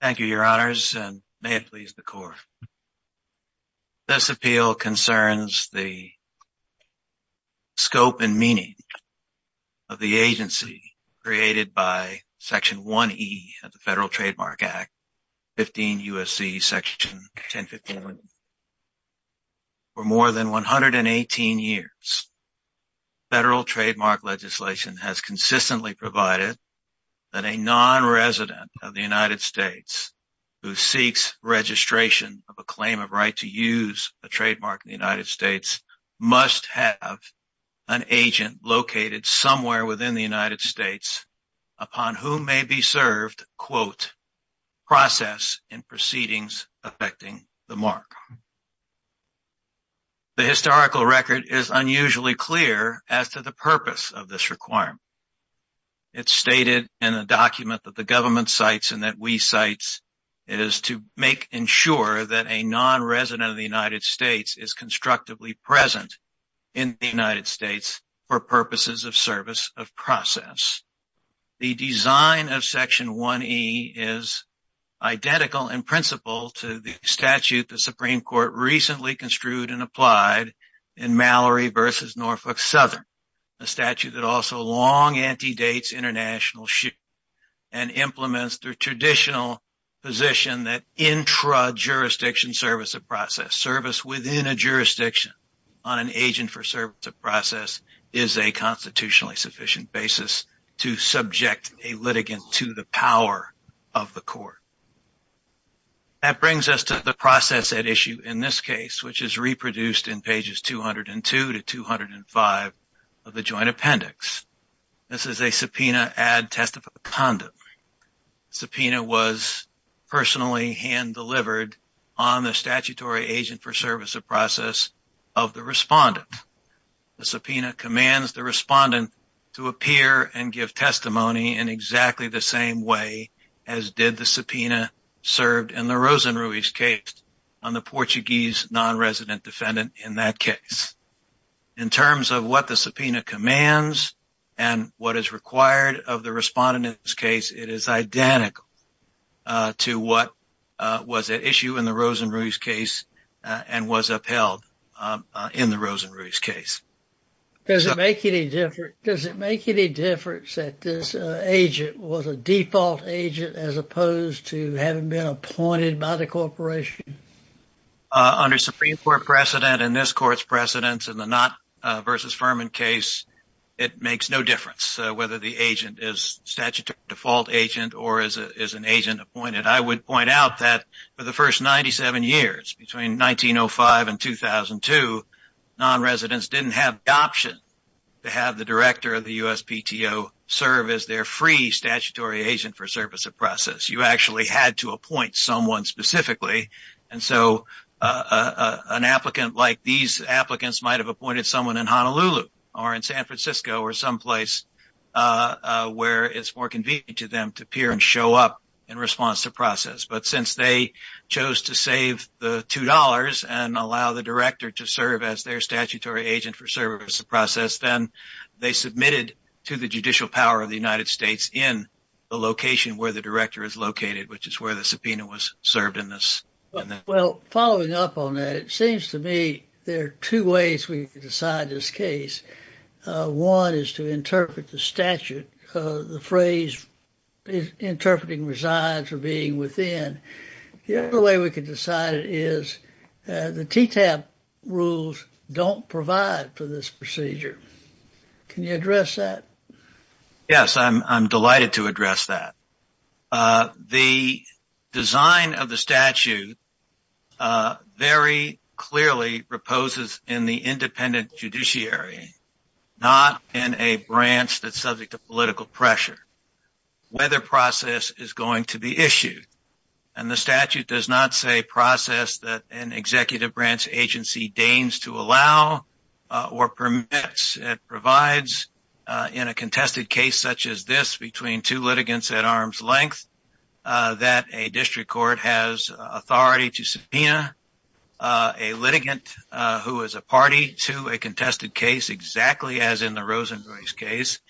Thank you, Your Honors, and may it please the Court. This appeal concerns the scope and meaning of the agency created by Section 1E of the Federal Trademark Act, 15 U.S.C. Section 1051. For more than 118 years, federal trademark legislation has consistently provided that a nonresident of the United States who seeks registration of a claim of right to use a trademark in the United States must have an agent located somewhere within the United States upon whom may be served, quote, process in proceedings affecting the mark. The historical record is unusually clear as to the purpose of this requirement. It is stated in the document that the government cites and that we cite, it is to make ensure that a nonresident of the United States is constructively present in the United States for purposes of service of process. The design of Section 1E is identical in principle to the statute the Supreme Court recently construed and applied in Mallory v. Norfolk Southern, a statute that also long antedates international shipping and implements the traditional position that intra-jurisdiction service of process, service within a jurisdiction on an agent for service of process, is a sufficient basis to subject a litigant to the power of the court. That brings us to the process at issue in this case, which is reproduced in pages 202 to 205 of the Joint Appendix. This is a subpoena ad testificandum. The subpoena was personally hand-delivered on the statutory agent for service of process of the respondent. The subpoena commands the respondent to appear and give testimony in exactly the same way as did the subpoena served in the Rosenruys case on the Portuguese nonresident defendant in that case. In terms of what the subpoena commands and what is required of the respondent in this case, it is identical to what was at issue in the Rosenruys case and was upheld in the Rosenruys case. Does it make any difference, does it make any difference that this agent was a default agent as opposed to having been appointed by the corporation? Under Supreme Court precedent and this court's precedents in the Knott versus Furman case, it makes no difference whether the agent is statutory default agent or is an agent appointed. I would point out that for the first 97 years, between 1905 and 2002, nonresidents did not have the option to have the director of the USPTO serve as their free statutory agent for service of process. You actually had to appoint someone specifically. An applicant like these applicants might have appointed someone in Honolulu or in San Francisco or someplace where it is more convenient to them to appear and show up in response to process. But since they chose to save the two dollars and allow the director to serve as their statutory agent for service of process, then they submitted to the judicial power of the United States in the location where the director is located, which is where the subpoena was served in this. Well, following up on that, it seems to me there are two ways we could decide this case. One is to interpret the statute. The phrase interpreting resides or being within. The other way we could decide it is the TTAP rules don't provide for this procedure. Can you address that? Yes, I'm delighted to address that. The design of the statute very clearly reposes in the independent judiciary, not in a branch that's subject to political pressure, whether process is going to be issued. And the statute does not say process that an executive branch agency deigns to allow or permits. It provides in a contested case such as between two litigants at arm's length that a district court has authority to subpoena a litigant who is a party to a contested case exactly as in the Rosenkrantz case.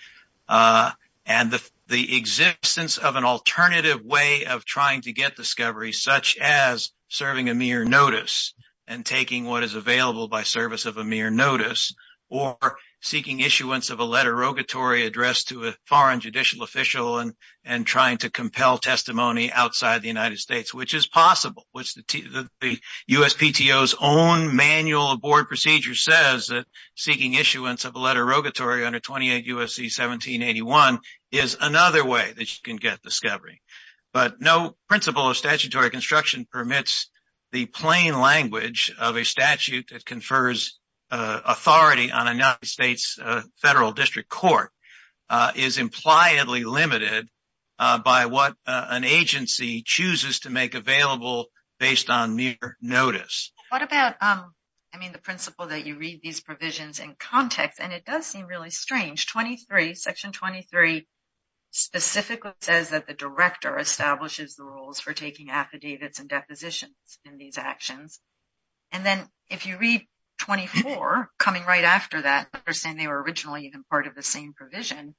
And the existence of an alternative way of trying to get discovery such as serving a mere notice and taking what is available by service of a mere notice or seeking issuance of a letter addressed to a foreign judicial official and trying to compel testimony outside the United States, which is possible. The USPTO's own manual of board procedure says that seeking issuance of a letter under 28 U.S.C. 1781 is another way that you can get discovery. But no principle of statutory construction permits the plain language of a statute that confers authority on a United States federal district court is impliedly limited by what an agency chooses to make available based on mere notice. What about, I mean, the principle that you read these provisions in context? And it does seem really strange. Section 23 specifically says that the director establishes the rules for taking affidavits and depositions in these actions. And then if you read 24 coming right after that, they're saying they were originally even part of the same provision.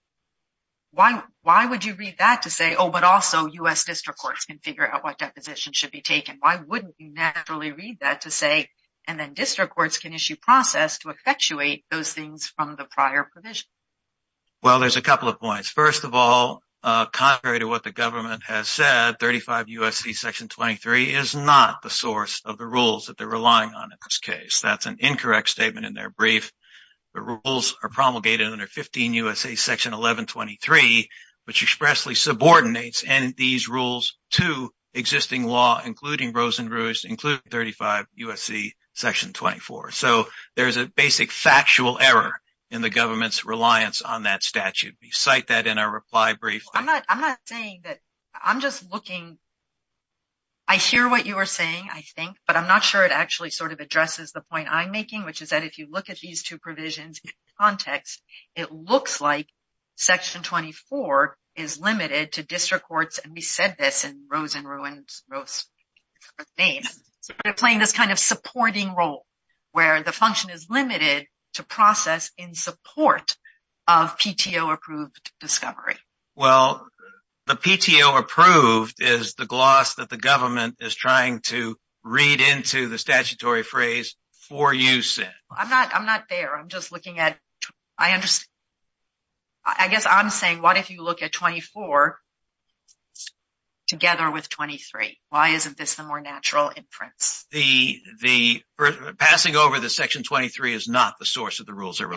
Why would you read that to say, oh, but also U.S. district courts can figure out what depositions should be taken? Why wouldn't you naturally read that to say, and then district courts can issue process to effectuate those things from the prior provision? Well, there's a couple of points. First of all, contrary to what the government has said, 35 U.S.C. Section 23 is not the source of the rules that they're relying on in this case. That's an incorrect statement in their brief. The rules are promulgated under 15 U.S.A. Section 1123, which expressly subordinates these rules to existing law, including Rosenruse, including 35 U.S.C. Section 24. So there is a basic factual error in the government's reliance on that information. I hear what you are saying, I think, but I'm not sure it actually sort of addresses the point I'm making, which is that if you look at these two provisions in context, it looks like Section 24 is limited to district courts, and we said this in Rosenruse's name, playing this kind of supporting role where the function is limited to process in support of PTO-approved discovery. Well, the PTO-approved is the gloss that the government is trying to read into the statutory phrase for use in. I'm not there, I'm just looking at, I understand, I guess I'm saying what if you look at 24 together with 23? Why isn't this the more natural inference? Passing over the Section 23 is not the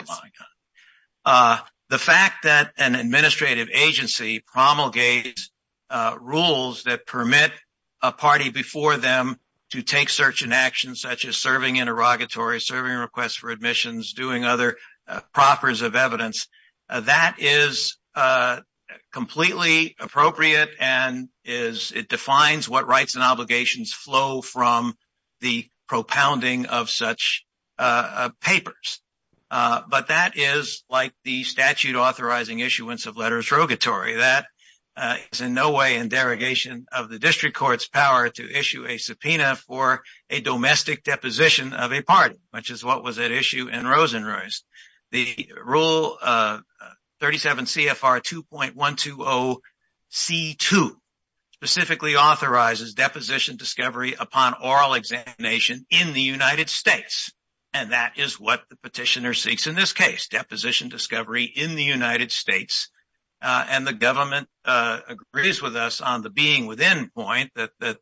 fact that an administrative agency promulgates rules that permit a party before them to take certain actions, such as serving interrogatory, serving requests for admissions, doing other proffers of evidence. That is completely appropriate, and it defines what rights and the statute authorizing issuance of letters rogatory. That is in no way in derogation of the district court's power to issue a subpoena for a domestic deposition of a party, which is what was at issue in Rosenruse. The Rule 37 CFR 2.120 C2 specifically authorizes deposition discovery upon oral examination in the United States, and that is what the petitioner seeks in this case. Deposition discovery in the United States, and the government agrees with us on the being within point that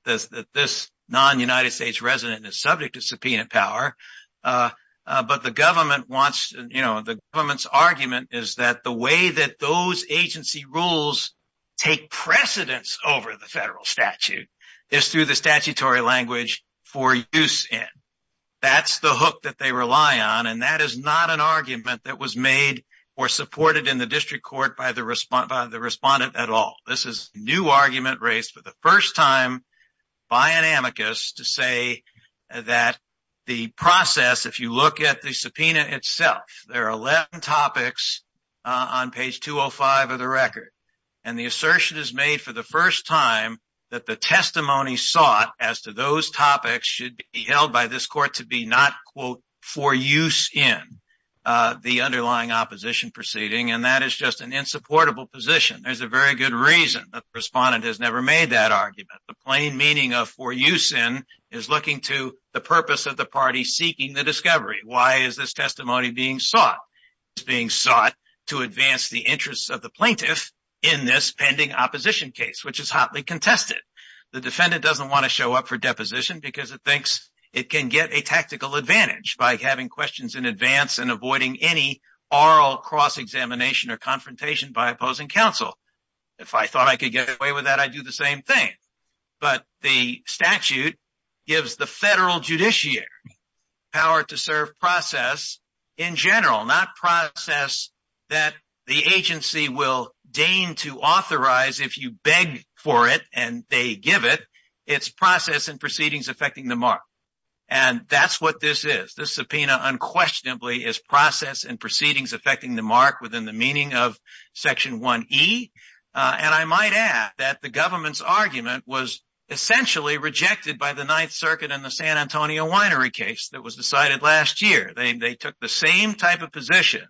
this non-United States resident is subject to subpoena power, but the government wants, you know, the government's argument is that the way that those agency rules take precedence over the federal statute is through the statutory language for use in. That's the hook that they rely on, and that is not an argument that was made or supported in the district court by the respondent at all. This is a new argument raised for the first time by an amicus to say that the process, if you look at the subpoena itself, there are 11 topics on page 205 of the record, and the assertion is made for the first time that the testimony sought as to those topics should be held by this court to be not, quote, for use in the underlying opposition proceeding, and that is just an insupportable position. There's a very good reason that the respondent has never made that argument. The plain meaning of for use in is looking to the purpose of the party seeking the discovery. Why is this testimony being sought? It's being sought to advance the interests of the plaintiff in this pending opposition case, which is hotly contested. The defendant doesn't want to show up for deposition because it thinks it can get a tactical advantage by having questions in advance and avoiding any oral cross-examination or confrontation by opposing counsel. If I thought I could get away with that, I'd do the same thing, but the statute gives the federal judiciary power to serve process in general, not process that the agency will deign to authorize if you beg for it and they give it. It's process and proceedings affecting the mark, and that's what this is. This subpoena unquestionably is process and proceedings affecting the mark within the meaning of section 1e, and I might add that the government's argument was essentially rejected by the Ninth Circuit in the San Antonio winery case that was decided last year. They took the same type of position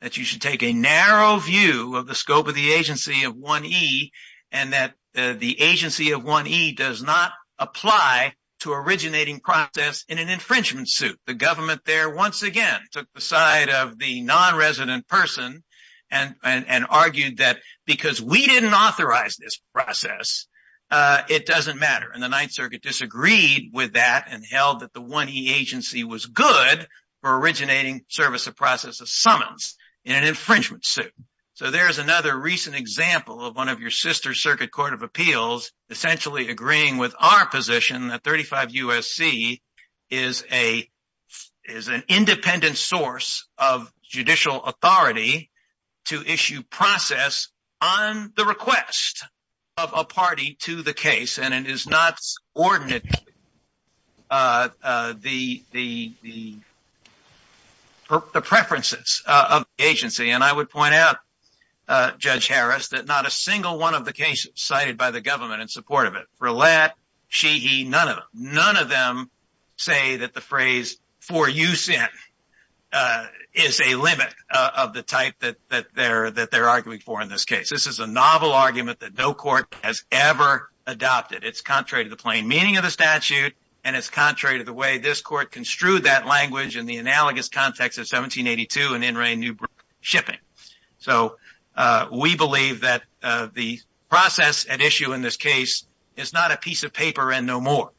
that you should take a narrow view of the scope of the agency of 1e and that the agency of 1e does not apply to originating process in an infringement suit. The government there once again took the side of the non-resident person and argued that because we didn't authorize this process, it doesn't matter, and the Ninth Circuit disagreed with that and held that the 1e agency was good for originating service of process of summons in an infringement suit. So there's another recent example of one of your sister circuit court of appeals essentially agreeing with our position that 35 U.S.C. is an independent source of judicial authority to issue process on the request of a party to the case, and it is not ordinate the preferences of the agency, and I would point out, Judge Harris, that not a single one of the cases cited by the government in support of it, for let, she, he, none of them, none of them say that the phrase for use in is a limit of the type that that they're that they're arguing for in this case. This is a novel argument that no court has ever adopted. It's contrary to the plain meaning of the statute, and it's contrary to the way this court construed that language in the analogous context of 1782 and N. Ray Newbrook shipping. So we believe that the process at issue in this case is not a piece of paper and no more.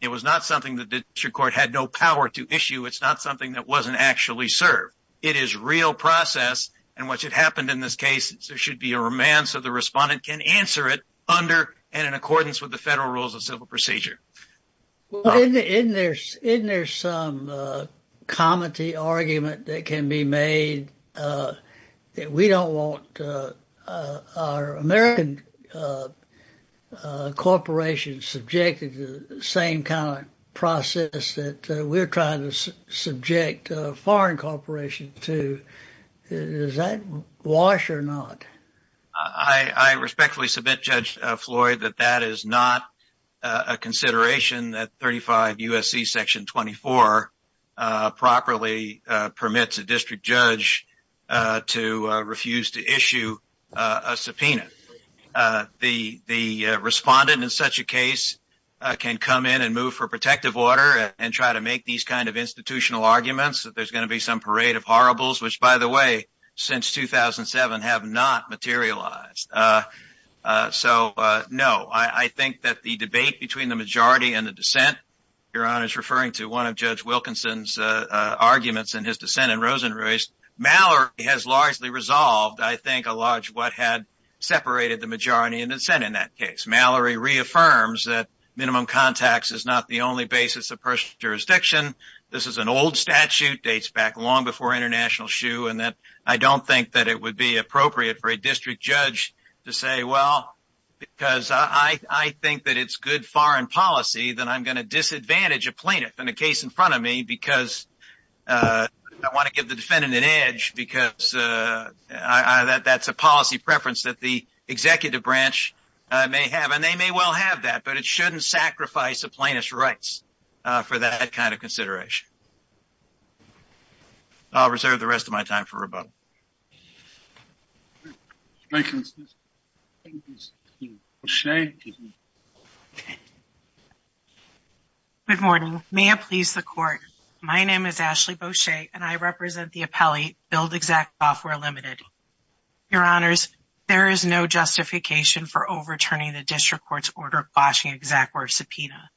It was not something that the district court had no power to issue. It's not something that wasn't actually served. It is real process, and what should happen in this case, there should be a romance of the respondent can answer it under and in accordance with the federal rules of civil procedure. Isn't there some comedy argument that can be made that we don't want our American corporations subjected to the same kind of process that we're trying to subject foreign corporations to? Is that wash or not? I respectfully submit, Judge Floyd, that that is not a consideration that 35 U. S. C. Section 24 properly permits a district judge to refuse to issue a subpoena. The respondent in such a case can come in and move for protective order and try to make these kind of institutional arguments that there's gonna be some parade of horribles, which, by the way, since 2000 and seven have not materialized. So no, I think that the debate between the majority and the dissent Iran is referring to one of Judge Wilkinson's arguments and his dissent in Rosen raised Mallory has largely resolved. I think a large what had separated the majority in the Senate. In that case, Mallory reaffirms that minimum contacts is not the only basis of personal jurisdiction. This is an old statute dates back long before international shoe, and that I don't think that it would be appropriate for a district judge to say, Well, because I think that it's good foreign policy that I'm gonna disadvantage a plaintiff in the case in front of me because I want to give the defendant an edge because that that's a policy preference that the executive branch may have, and they may well have that. But it shouldn't sacrifice a plaintiff's rights for that kind of consideration. I'll reserve the rest of my time for rebuttal. Thank you, Mr. Bush a good morning. May it please the court. My name is Ashley Boucher, and I represent the appellate build exact off. We're limited. Your honors, there is no justification for overturning the district court's order washing exact where subpoena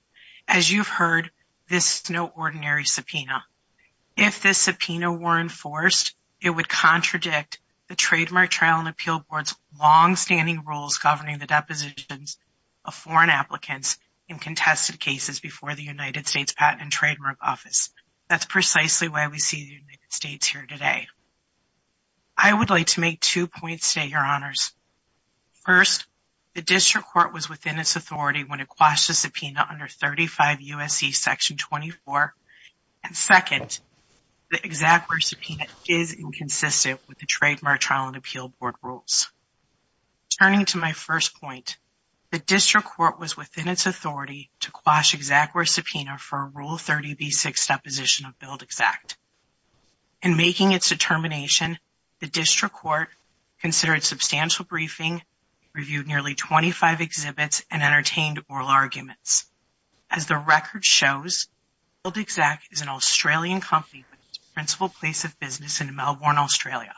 as you've heard. This is no ordinary subpoena. If this subpoena were enforced, it would contradict the trademark trial and appeal board's longstanding rules governing the depositions of foreign applicants in contested cases before the United States Patent and Trademark Office. That's precisely why we see the United States here today. I would like to make two points to your honors. First, the district court was within its authority when it quashes subpoena under 35 USC Section 24. And second, the exact where subpoena is inconsistent with the trademark trial and appeal board rules. Turning to my first point, the district court was within its authority to quash exact where subpoena for rule 30 B6 deposition of build exact. In making its determination, the district court considered substantial briefing, reviewed nearly 25 exhibits, and entertained oral arguments. As the record shows, build exact is an Australian company with its principal place of business in Melbourne, Australia.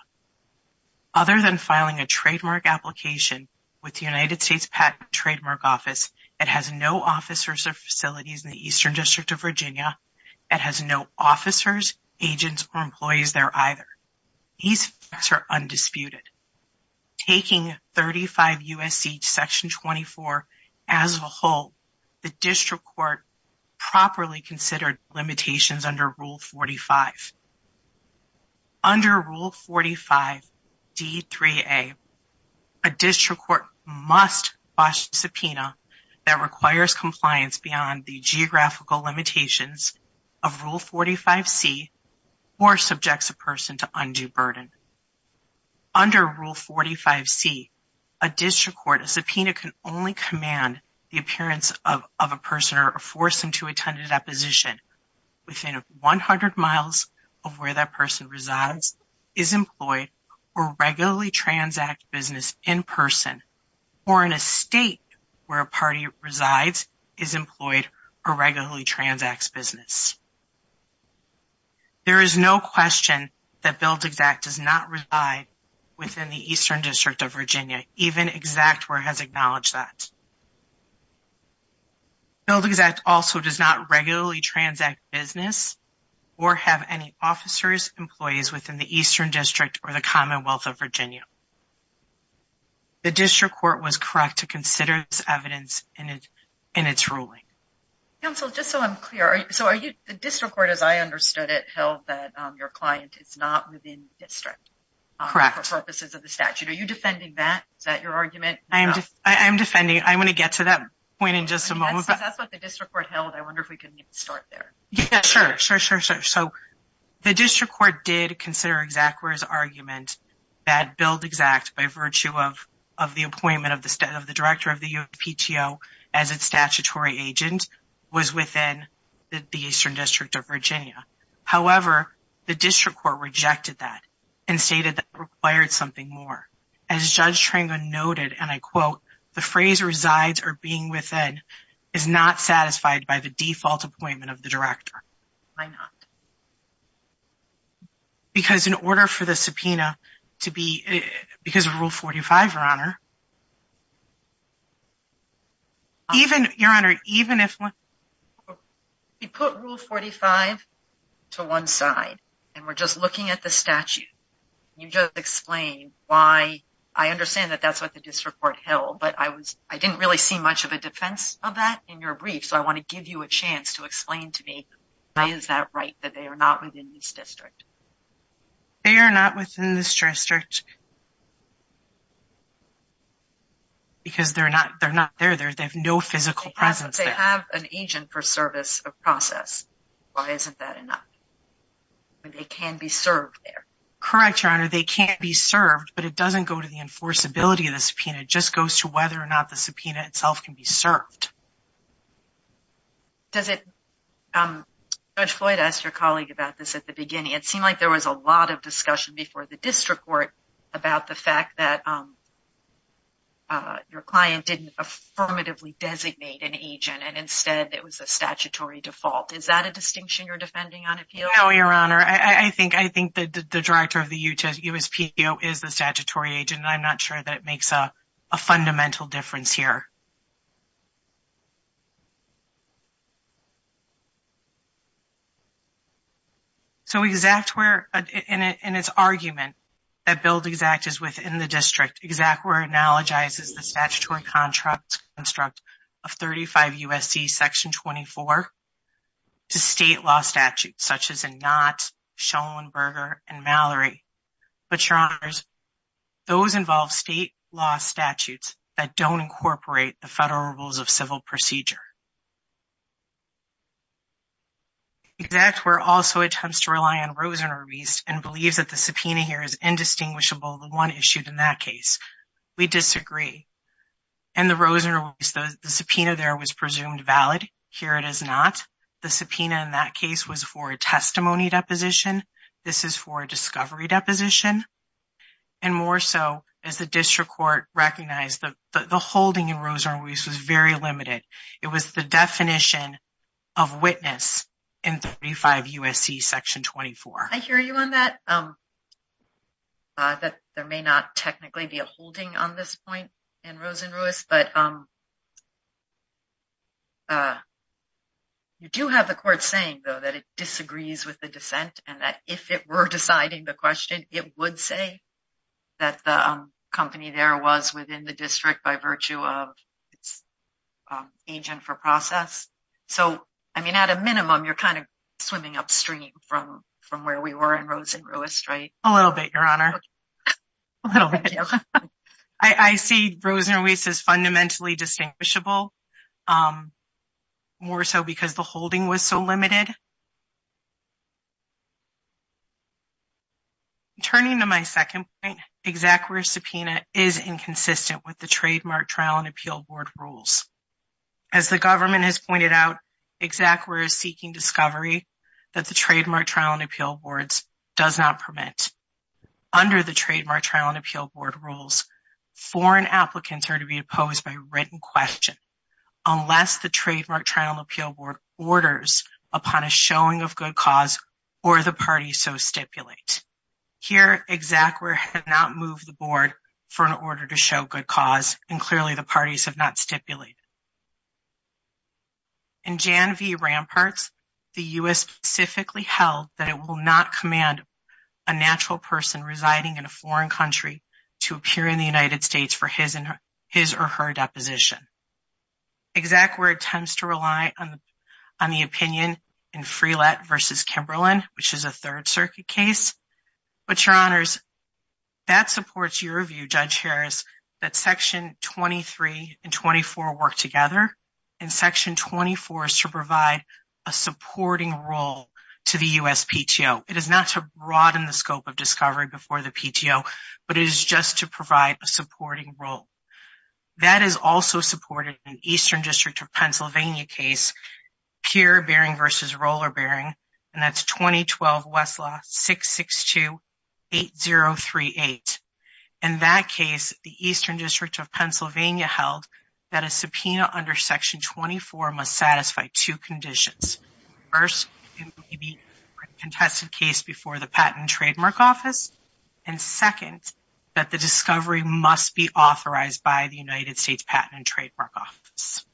Other than filing a trademark application with the United States Patent Trademark Office, it has no officers or facilities in the Eastern District of Virginia. It has no officers, agents, or employees there either. These facts are undisputed. Taking 35 USC Section 24 as a whole, the district court properly considered limitations under Rule 45. Under Rule 45 D3A, a district court must quash subpoena that requires compliance beyond the geographical limitations of Rule 45 C or subjects a person to undue burden. Under Rule 45 C, a district court, a subpoena can only command the appearance of a person or force them to attend a deposition within 100 miles of where that person resides, is employed, or regularly transacts business in person, or in a state where a party resides, is employed, or regularly transacts business. There is no question that build exact does not reside within the Eastern District of Virginia, even exact where it has acknowledged that. Build exact also does not regularly transact business or have any officers, employees within the Eastern District or the Commonwealth of Virginia. The district court was correct to consider this evidence in its ruling. Counsel, just so I'm clear, so are you, the district court as I understood it held that your client is not within the district. Correct. For purposes of the statute. Are you defending that? Is that your argument? I am defending, I'm going to get to that point in just a moment. That's what the district court held. I wonder if we can start there. Yeah, sure, sure, sure, sure. So, the district court did consider exact where his argument that build exact by virtue of the appointment of the director of the UPTO as its statutory agent was within the Eastern District of Virginia. However, the district court rejected that and stated that it required something more. As Judge Trango noted, and I quote, the phrase resides or being within is not satisfied by the default appointment of the director. Why not? Because in order for the subpoena to be, because of Rule 45, Your Honor. Even, Your Honor, even if we put Rule 45 to one side and we're just looking at the statute, you just explained why I understand that that's what the district court held, but I was, I didn't really see much of a defense of that in your brief. So, I want to give you a chance to explain to me why is that right? That they are not within this district. They are not within this district. Because they're not, they're not there. They have no physical presence. They have an agent for service of process. Why isn't that enough? They can be served there. Correct, Your Honor. They can be served, but it doesn't go to the enforceability of the subpoena. It just goes to whether or not the subpoena itself can be served. Does it, Judge Floyd asked your colleague about this at the beginning. It seemed like there was a lot of discussion before the district court about the fact that your client didn't affirmatively designate an agent and instead it was a statutory default. Is that a distinction you're defending on appeal? No, Your Honor. I think the director of the USPO is the statutory agent. I'm not sure that it makes a fundamental difference here. So, exact where, in its argument, that Build Exact is within the district, exact where it analogizes the statutory contract construct of 35 Section 24 to state law statutes such as a not, Schellenberger, and Mallory. But, Your Honor, those involve state law statutes that don't incorporate the federal rules of civil procedure. Exact where also attempts to rely on Rosen or Wiest and believes that the subpoena here is indistinguishable, the one issued in that case. We disagree. And the Rosen or Wiest, the subpoena there was presumed valid. Here it is not. The subpoena in that case was for a testimony deposition. This is for a discovery deposition. And more so as the district court recognized that the holding in Rosen or Wiest was very limited. It was the definition of witness in 35 USC Section 24. I hear you on that. There may not technically be a holding on this point in Rosen or Wiest, but you do have the court saying, though, that it disagrees with the dissent and that if it were deciding the question, it would say that the company there was within the district by virtue of its agent for process. So, I mean, at a minimum, you're kind of swimming upstream from where we were in Rosen or Wiest, right? A little bit, Your Honor. A little bit. I see Rosen or Wiest as fundamentally distinguishable, more so because the holding was so limited. Turning to my second point, ExacWare's subpoena is inconsistent with the Trademark Trial and Appeal Board rules. As the government has pointed out, ExacWare is seeking discovery that the Trademark Trial and Appeal Board does not permit. Under the Trademark Trial and Appeal Board rules, foreign applicants are to be opposed by written question unless the Trademark Trial and Appeal Board orders upon a showing of good cause or the parties so stipulate. Here, ExacWare has not moved the board for an order to show good cause and clearly the specifically held that it will not command a natural person residing in a foreign country to appear in the United States for his or her deposition. ExacWare tends to rely on the opinion in Freelette v. Kimberlin, which is a Third Circuit case. But, Your Honors, that supports your view, Judge Harris, that Section 23 and 24 work together and Section 24 is to provide a supporting role to the U.S. PTO. It is not to broaden the scope of discovery before the PTO, but it is just to provide a supporting role. That is also supported in the Eastern District of Pennsylvania case, Pure Bearing v. Roller Bearing, and that's 2012 Westlaw 662-8038. In that case, the Eastern District of Pennsylvania held that a subpoena under Section 24 must two conditions. First, it may be a contested case before the Patent and Trademark Office, and second, that the discovery must be authorized by the United States Patent and Trademark Office.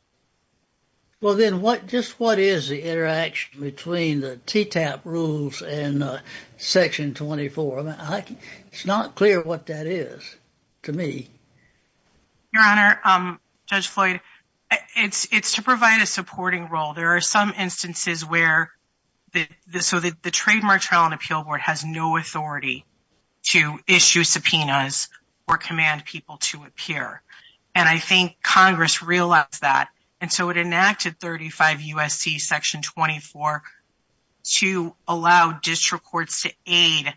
Well, then, just what is the interaction between the TTAP rules and Section 24? It's not clear what that is to me. Your Honor, Judge Floyd, it's to provide a supporting role. There are some instances where the Trademark Trial and Appeal Board has no authority to issue subpoenas or command people to appear, and I think Congress realized that, and so it enacted 35 U.S.C. Section 24 to allow district courts to aid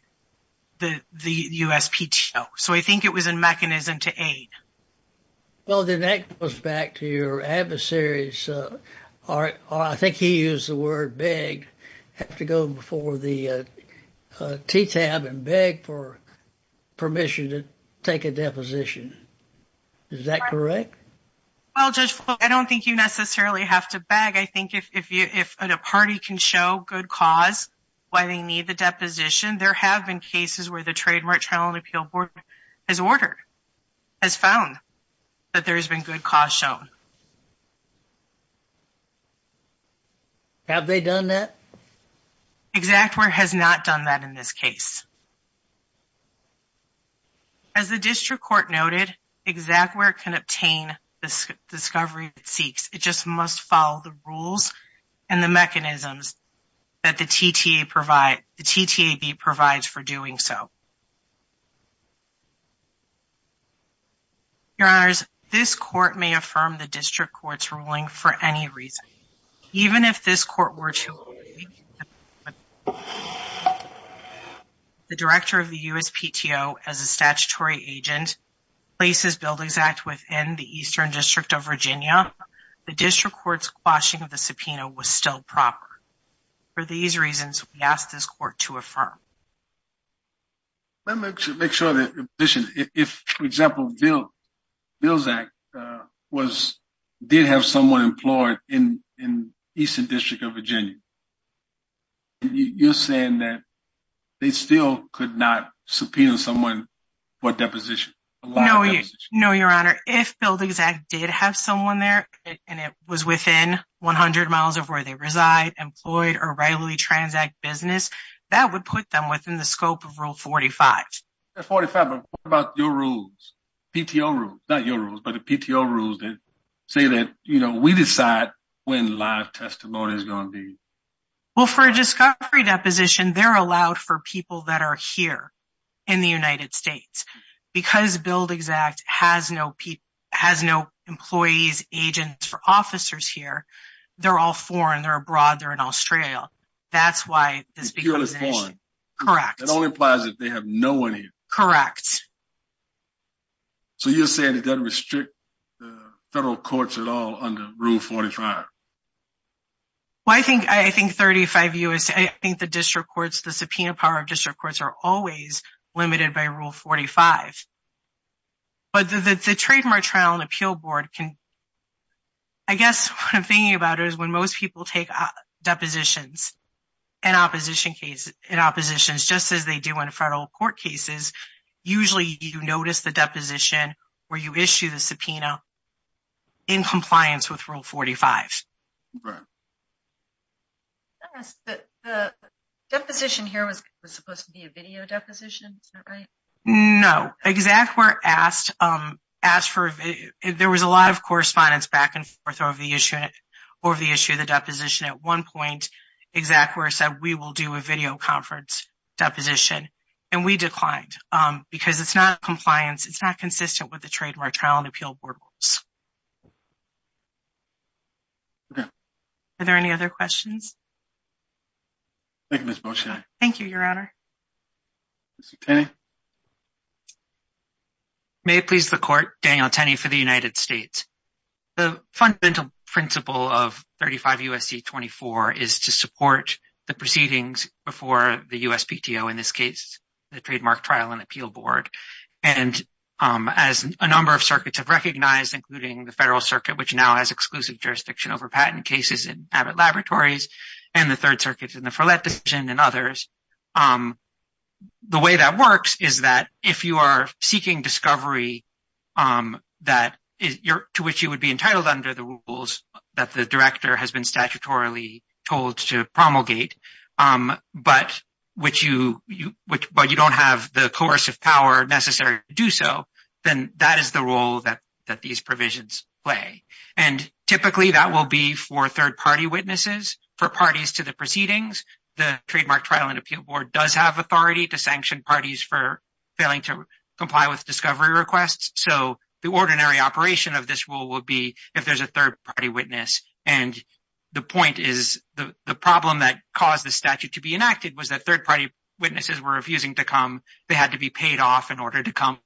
the USPTO. So, I think it was a mechanism to aid. Well, then that goes back to your adversaries. I think he used the word beg. Have to go before the TTAP and beg for permission to take a deposition. Is that correct? Well, Judge Floyd, I don't think you necessarily have to beg. I think if a party can show good cause why they need the deposition, there have been cases where the Trademark Trial and Appeal Board has ordered, has found that there has been good cause shown. Have they done that? EXACT WHERE has not done that in this case. As the district court noted, EXACT WHERE can obtain the discovery it seeks. It just must follow the rules and the mechanisms that the TTAB provides for doing so. Your Honors, this court may affirm the district court's ruling for any reason, even if this court were to agree that the Director of the USPTO, as a statutory agent, places Buildings Act within the Eastern District of Virginia, the district court's quashing of the subpoena was still proper. For these reasons, we ask this court to affirm. Let me make sure that, in addition, if, for example, Buildings Act did have someone employed in the Eastern District of Virginia, you're saying that they still could not subpoena someone for a deposition? No, Your Honor. If Buildings Act did have someone there, and it was within 100 miles of where they reside, employed or regularly transact business, that would put them within the scope of Rule 45. At 45, what about your rules? PTO rules. Not your rules, but the PTO rules that say that, you know, we decide when live testimony is going to be. Well, for a discovery deposition, they're allowed for people that are here in the United States. Because Buildings Act has no employees, agents or officers here, they're all foreign. They're all foreign. Correct. That only implies that they have no one here. Correct. So you're saying it doesn't restrict the federal courts at all under Rule 45? Well, I think 35 years, I think the district courts, the subpoena power of district courts are always limited by Rule 45. But the trademark trial and appeal board can, I guess what I'm thinking about is when most people take depositions in opposition cases, in oppositions, just as they do in federal court cases, usually you notice the deposition where you issue the subpoena in compliance with Rule 45. The deposition here was supposed to be a video deposition, is that right? No, exactly where asked. There was a lot of correspondence back and forth over the issue of the deposition at one point, exactly where it said we will do a video conference deposition. And we declined because it's not compliance, it's not consistent with the trademark trial and appeal board rules. Okay. Are there any other questions? Thank you, Ms. Beaucheney. Thank you, Your Honor. Ms. Tenney. May it please the court, Daniel Tenney for the United States. The fundamental principle of 35 U.S.C. 24 is to support the proceedings before the USPTO, in this case, the trademark trial and appeal board. And as a number of circuits have recognized, including the Federal Circuit, which now has exclusive jurisdiction over patent cases in Abbott Laboratories, and the Third Circuit in the Follett decision and others, the way that works is that if you are seeking discovery to which you would be entitled under the rules that the director has been statutorily told to promulgate, but you don't have the coercive power necessary to do so, then that is the role that these provisions play. And typically, that will be for third-party witnesses, for parties to the proceedings, the trademark trial and appeal board does have authority to sanction parties for failing to comply with discovery requests. So the ordinary operation of this rule would be if there's a third-party witness. And the point is, the problem that caused the statute to be enacted was that third-party witnesses were refusing to come. They had to be paid off in order to come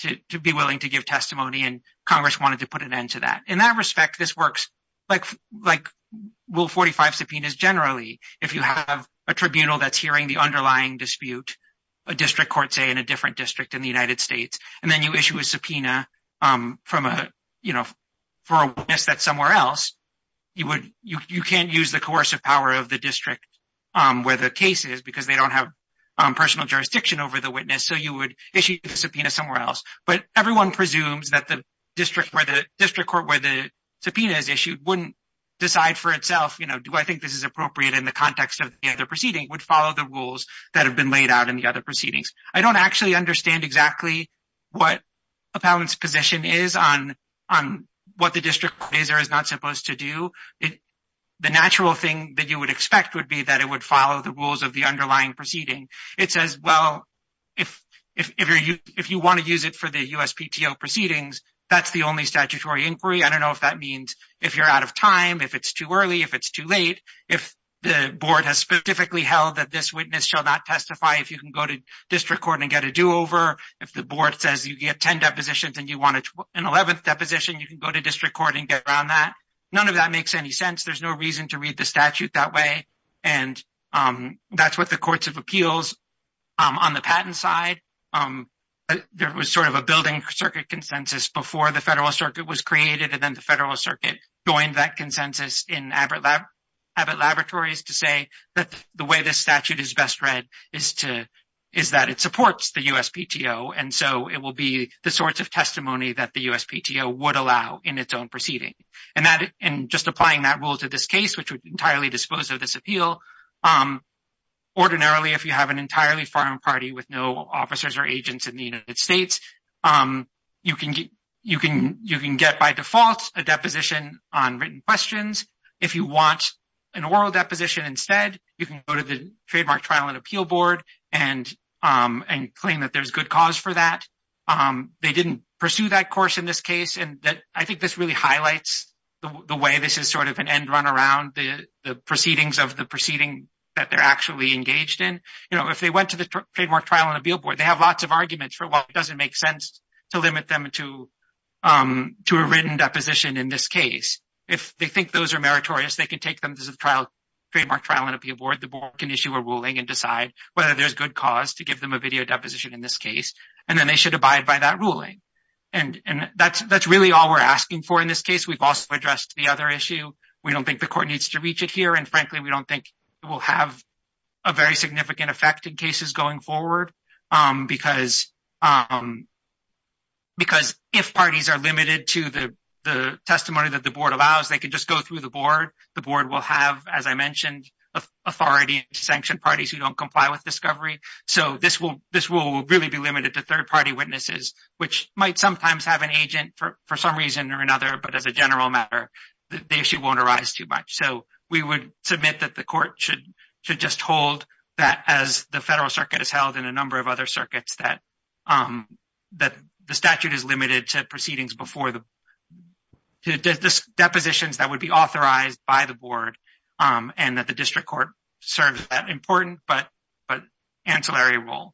to be willing to give testimony, and Congress wanted to put an end to that. In that respect, this works like Will 45 subpoenas generally. If you have a tribunal that's hearing the underlying dispute, a district court, say, in a different district in the United States, and then you issue a subpoena for a witness that's somewhere else, you can't use the coercive power of the district where the case is because they don't have personal jurisdiction over the witness, so you would issue the subpoena somewhere else. But everyone presumes that the district court where the subpoena is issued wouldn't decide for itself, you know, do I think this is appropriate in the context of the other proceeding, would follow the rules that have been laid out in the other proceedings. I don't actually understand exactly what appellant's position is on what the district court is or is not supposed to do. The natural thing that you would expect would be that it would follow the rules of the underlying proceeding. It says, well, if you want to use it for the USPTO proceedings, that's the only statutory inquiry. I don't know if that means if you're out of time, if it's too early, if it's too late, if the board has specifically held that this witness shall not testify, if you can go to district court and get a do-over, if the board says you get 10 depositions and you want an 11th deposition, you can go to district court and get around that. None of that makes any sense. There's no reason to read the USPTO. There was sort of a building circuit consensus before the federal circuit was created, and then the federal circuit joined that consensus in Abbott Laboratories to say that the way this statute is best read is that it supports the USPTO, and so it will be the sorts of testimony that the USPTO would allow in its own proceeding. And just applying that rule to this case, which would entirely dispose of this appeal, ordinarily if you have an entirely foreign party with no officers or agents in the United States, you can get by default a deposition on written questions. If you want an oral deposition instead, you can go to the Trademark Trial and Appeal Board and claim that there's good cause for that. They didn't pursue that course in this case, and I think this really highlights the way this is sort of an end-run around the proceedings of the proceeding that they're actually engaged in. If they went to the Trademark Trial and Appeal Board, they have lots of arguments for why it doesn't make sense to limit them to a written deposition in this case. If they think those are meritorious, they can take them to the Trademark Trial and Appeal Board. The board can issue a ruling and decide whether there's good cause to give them a video deposition in this case, and then they should abide by that ruling. And that's really all we're asking for in this case. We've also addressed the other issue. We don't think the court needs to reach it here, and frankly, we don't think it will have a very significant effect in cases going forward, because if parties are limited to the testimony that the board allows, they could just go through the board. The board will have, as I mentioned, authority to sanction parties who don't comply with discovery. So this will really be limited to third-party witnesses, which might sometimes have an agent for some reason or another, but as a general matter, the issue won't arise too much. So we would submit that the court should just hold that, as the federal circuit has held in a number of other circuits, that the statute is limited to depositions that would be authorized by the board and that the district court serves that important but ancillary role.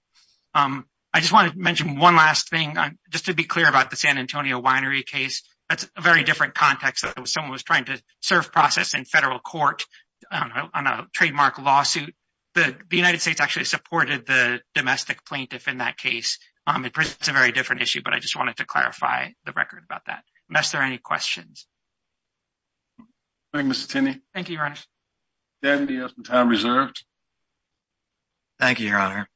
I just want to mention one last thing, just to be clear about the San Antonio winery case. That's a very different context. Someone was trying to serve process in federal court on a trademark lawsuit, but the United States actually supported the domestic plaintiff in that case. It's a very different issue, but I just wanted to clarify the record about that, unless there are any questions. Thank you, Mr. Tinney. Thank you, Your Honor. Dan, you have some time reserved. Thank you, Your Honor.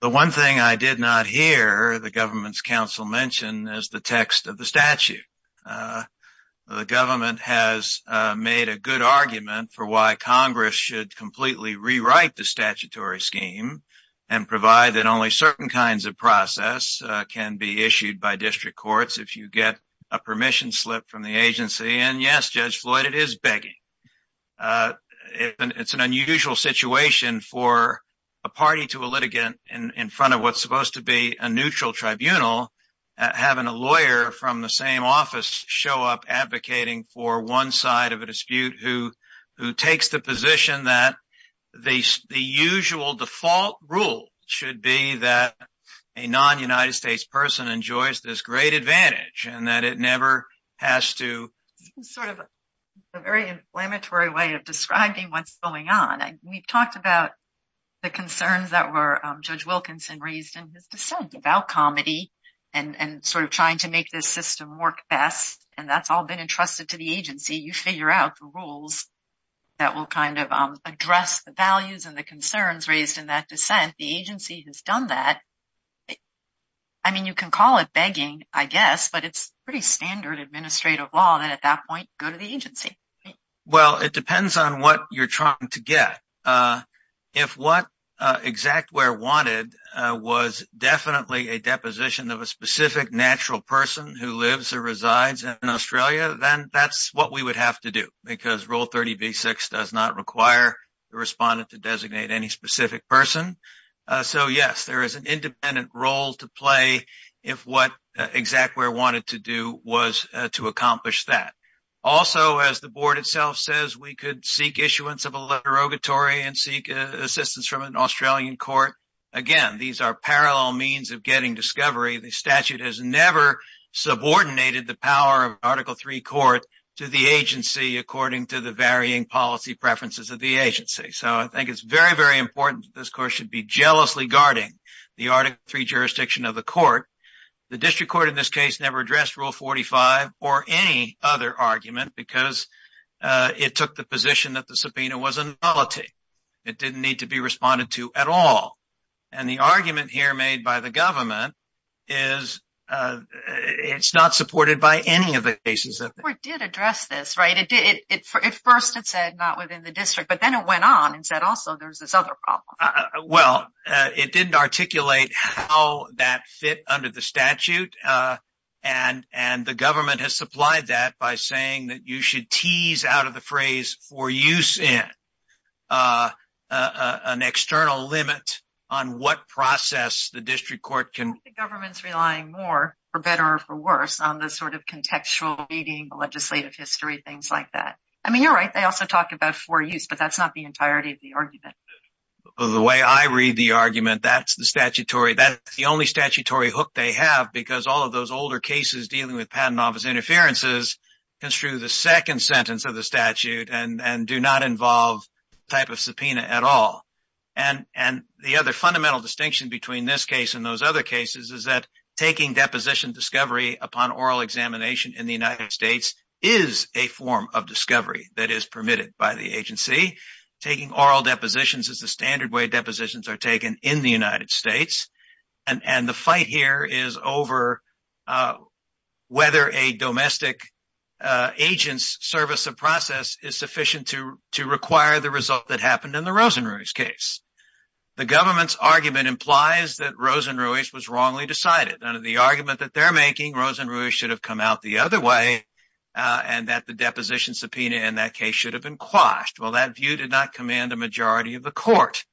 The one thing I did not hear the government's counsel mention is the text of the statute. The government has made a good argument for why Congress should completely rewrite the statutory scheme and provide that only certain kinds of process can be issued by district courts if you get a permission slip from the agency. Yes, Judge Floyd, it is begging. It's an unusual situation for a party to a litigant in front of what's supposed to be a neutral tribunal, having a lawyer from the same office show up advocating for one side of a dispute who takes the position that the usual default rule should be that a non-United States person enjoys this great advantage and that it never has to... It's sort of a very inflammatory way of describing what's going on. We've talked about the concerns that were Judge Wilkinson raised in his dissent about comedy and sort of trying to make this system work best, and that's all been entrusted to the agency. You figure out the rules that will kind of address the values and the concerns raised in that dissent. The agency has done that. I mean, you can call it begging, I guess, but it's pretty standard administrative law that at that point, go to the agency. Well, it depends on what you're trying to get. If what ExactWare wanted was definitely a deposition of a specific natural person who lives or resides in Australia, then that's what we would have to do because Rule 30b-6 does not the respondent to designate any specific person. So yes, there is an independent role to play if what ExactWare wanted to do was to accomplish that. Also, as the board itself says, we could seek issuance of a letter of derogatory and seek assistance from an Australian court. Again, these are parallel means of getting discovery. The statute has never subordinated the power of the agency. So I think it's very, very important that this court should be jealously guarding the Article III jurisdiction of the court. The district court in this case never addressed Rule 45 or any other argument because it took the position that the subpoena was a nullity. It didn't need to be responded to at all. And the argument here made by the government is it's not supported by any of the cases. The court did address this, right? At first, it said not within the district, but then it went on and said, also, there's this other problem. Well, it didn't articulate how that fit under the statute. And the government has supplied that by saying that you should tease out of the phrase for use in an external limit on what process the district court can... I think the government's relying more, for better or for worse, on this sort of contextual reading, legislative history, things like that. I mean, you're right. They also talk about for use, but that's not the entirety of the argument. The way I read the argument, that's the only statutory hook they have because all of those older cases dealing with patent office interferences construe the second sentence of the statute and do not involve type of subpoena at all. And the other fundamental distinction between this case and those other cases is that taking deposition discovery upon oral examination in the United States is a form of discovery that is permitted by the agency. Taking oral depositions is the standard way depositions are taken in the United States. And the fight here is over whether a domestic agent's service of process is sufficient to require the result that happened in the Rosenruys case. The government's argument implies that Rosenruys was wrongly decided. Under the argument that they're making, Rosenruys should have come out the other way, and that the deposition subpoena in that case should have been quashed. Well, that view did not command a majority of the court.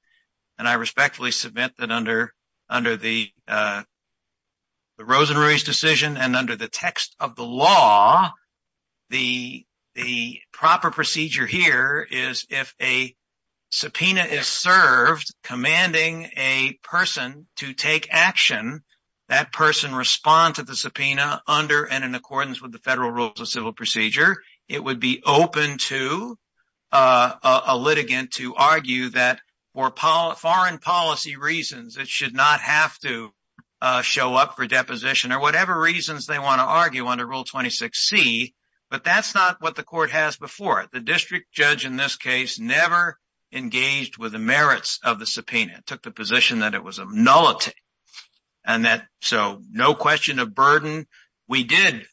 And I respectfully submit that under the Rosenruys decision and under the text of the law, the proper procedure here is if a subpoena is served commanding a person to take action, that person respond to the subpoena under and in accordance with the federal rules of civil procedure. It would be open to a litigant to argue that for foreign policy reasons, it should not have to show up for deposition or whatever reasons they want to argue under Rule 26C. But that's not what the court has before. The district judge in this case never engaged with the merits of the subpoena. It took the position that it was a nullity. So no question of burden. We did,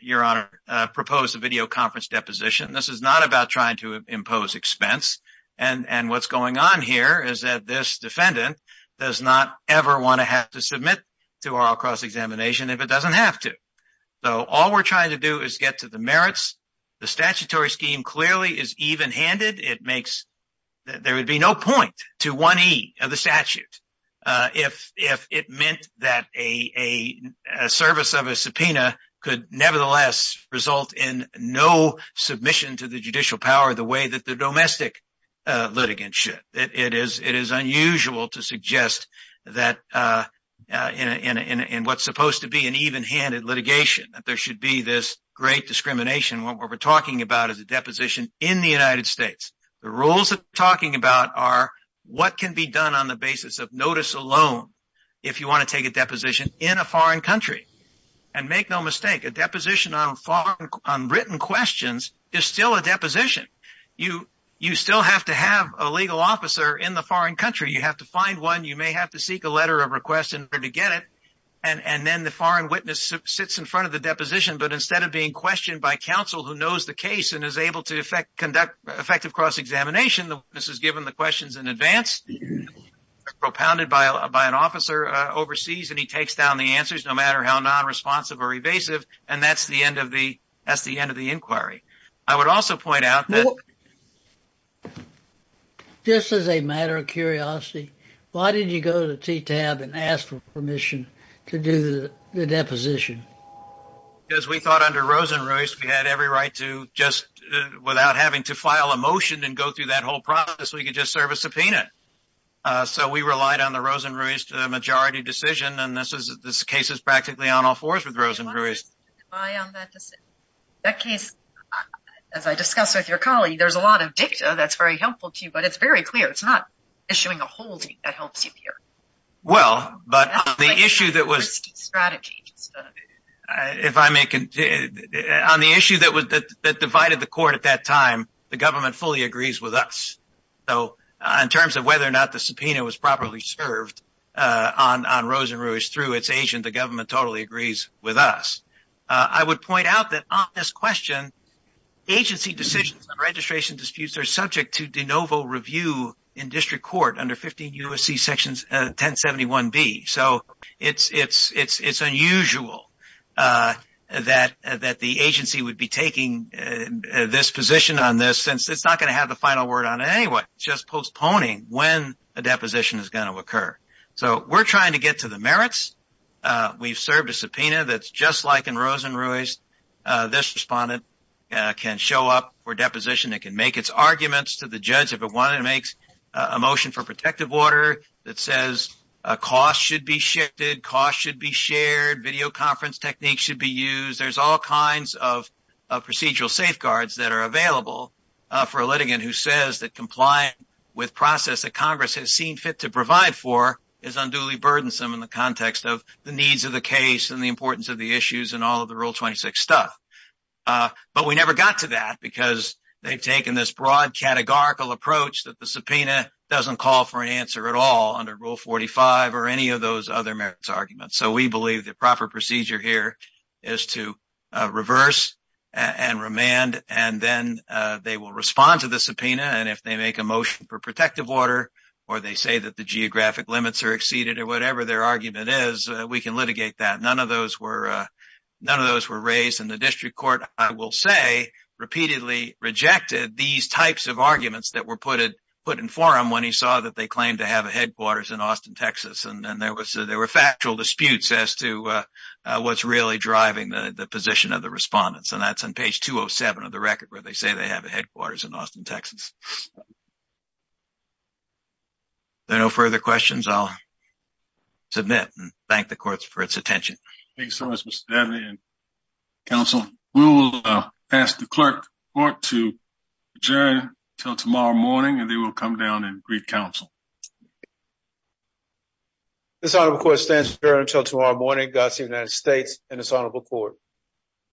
Your Honor, propose a video conference deposition. This is not about trying to impose expense. And what's going on here is that this defendant does not ever want to have to submit to our cross-examination if it doesn't have to. So all we're trying to do is get to the merits. The statutory scheme clearly is even-handed. There would be no point to 1E of the statute if it meant that a service of a subpoena could nevertheless result in no submission to the judicial power the way that the domestic litigants should. It is unusual to suggest that in what's supposed to be an even-handed litigation that there should be this great discrimination. What we're talking about is a deposition in the United States. The rules that we're talking about are what can be done on the basis of notice alone if you want to take a deposition in a foreign country. And make no mistake, a deposition on written questions is still a deposition. You still have to have a legal officer in the foreign country. You have to find one. You may have to seek a letter of request in order to get it. And then the foreign witness sits in front of the deposition. But instead of being questioned by counsel who knows the case and is able to conduct effective cross-examination, the witness is given the questions in advance, propounded by an officer overseas, and he takes down the answers no matter how non-responsive or evasive. And that's the end of the inquiry. I would also point out that... Just as a matter of curiosity, why did you go to the TTAB and ask for permission to do the deposition? Because we thought under Rosen-Ruiz we had every right to just, without having to file a motion and go through that whole process, we could just serve a subpoena. So we relied on the Rosen-Ruiz majority decision, and this case is practically on all fours with Rosen-Ruiz. That case, as I discussed with your colleague, there's a lot of dicta that's very helpful to you, but it's very clear. It's not issuing a holding that helps you here. Well, but the issue that was... On the issue that divided the court at that time, the government fully agrees with us. In terms of whether or not the subpoena was properly served on Rosen-Ruiz through its agent, the government totally agrees with us. I would point out that on this question, agency decisions on registration disputes are subject to de novo review in district court under 15 U.S.C. Section 1071B. So it's unusual that the agency would be taking this position on this since it's not going to have the final word on it anyway. It's just postponing when a deposition is going to occur. So we're trying to get to the merits. We've served a subpoena that's just like in Rosen-Ruiz. This respondent can show up for deposition. It can make its arguments to the judge if it wanted to make a motion for protective order that says costs should be shifted, costs should be shared, video conference techniques should be used. There's all kinds of procedural safeguards that are available for a litigant who says that complying with process that Congress has seen fit to provide for is unduly burdensome in the context of the needs of the case and the importance of the issues and all of the Rule 26 stuff. But we never got to that because they've taken this broad categorical approach that the subpoena doesn't call for an answer at all under Rule 45 or any of those other merits arguments. So we believe the proper procedure here is to reverse and remand and then they will respond to the motion for protective order or they say that the geographic limits are exceeded or whatever their argument is. We can litigate that. None of those were raised and the district court, I will say, repeatedly rejected these types of arguments that were put in forum when he saw that they claimed to have a headquarters in Austin, Texas. There were factual disputes as to what's really driving the position of the respondents and that's on page 207 of the report. No further questions, I'll submit and thank the courts for its attention. Thank you so much, Mr. Daly and counsel. We will ask the clerk to adjourn until tomorrow morning and they will come down and greet counsel. This honorable court stands adjourned until tomorrow morning. God save the United States and this honorable court.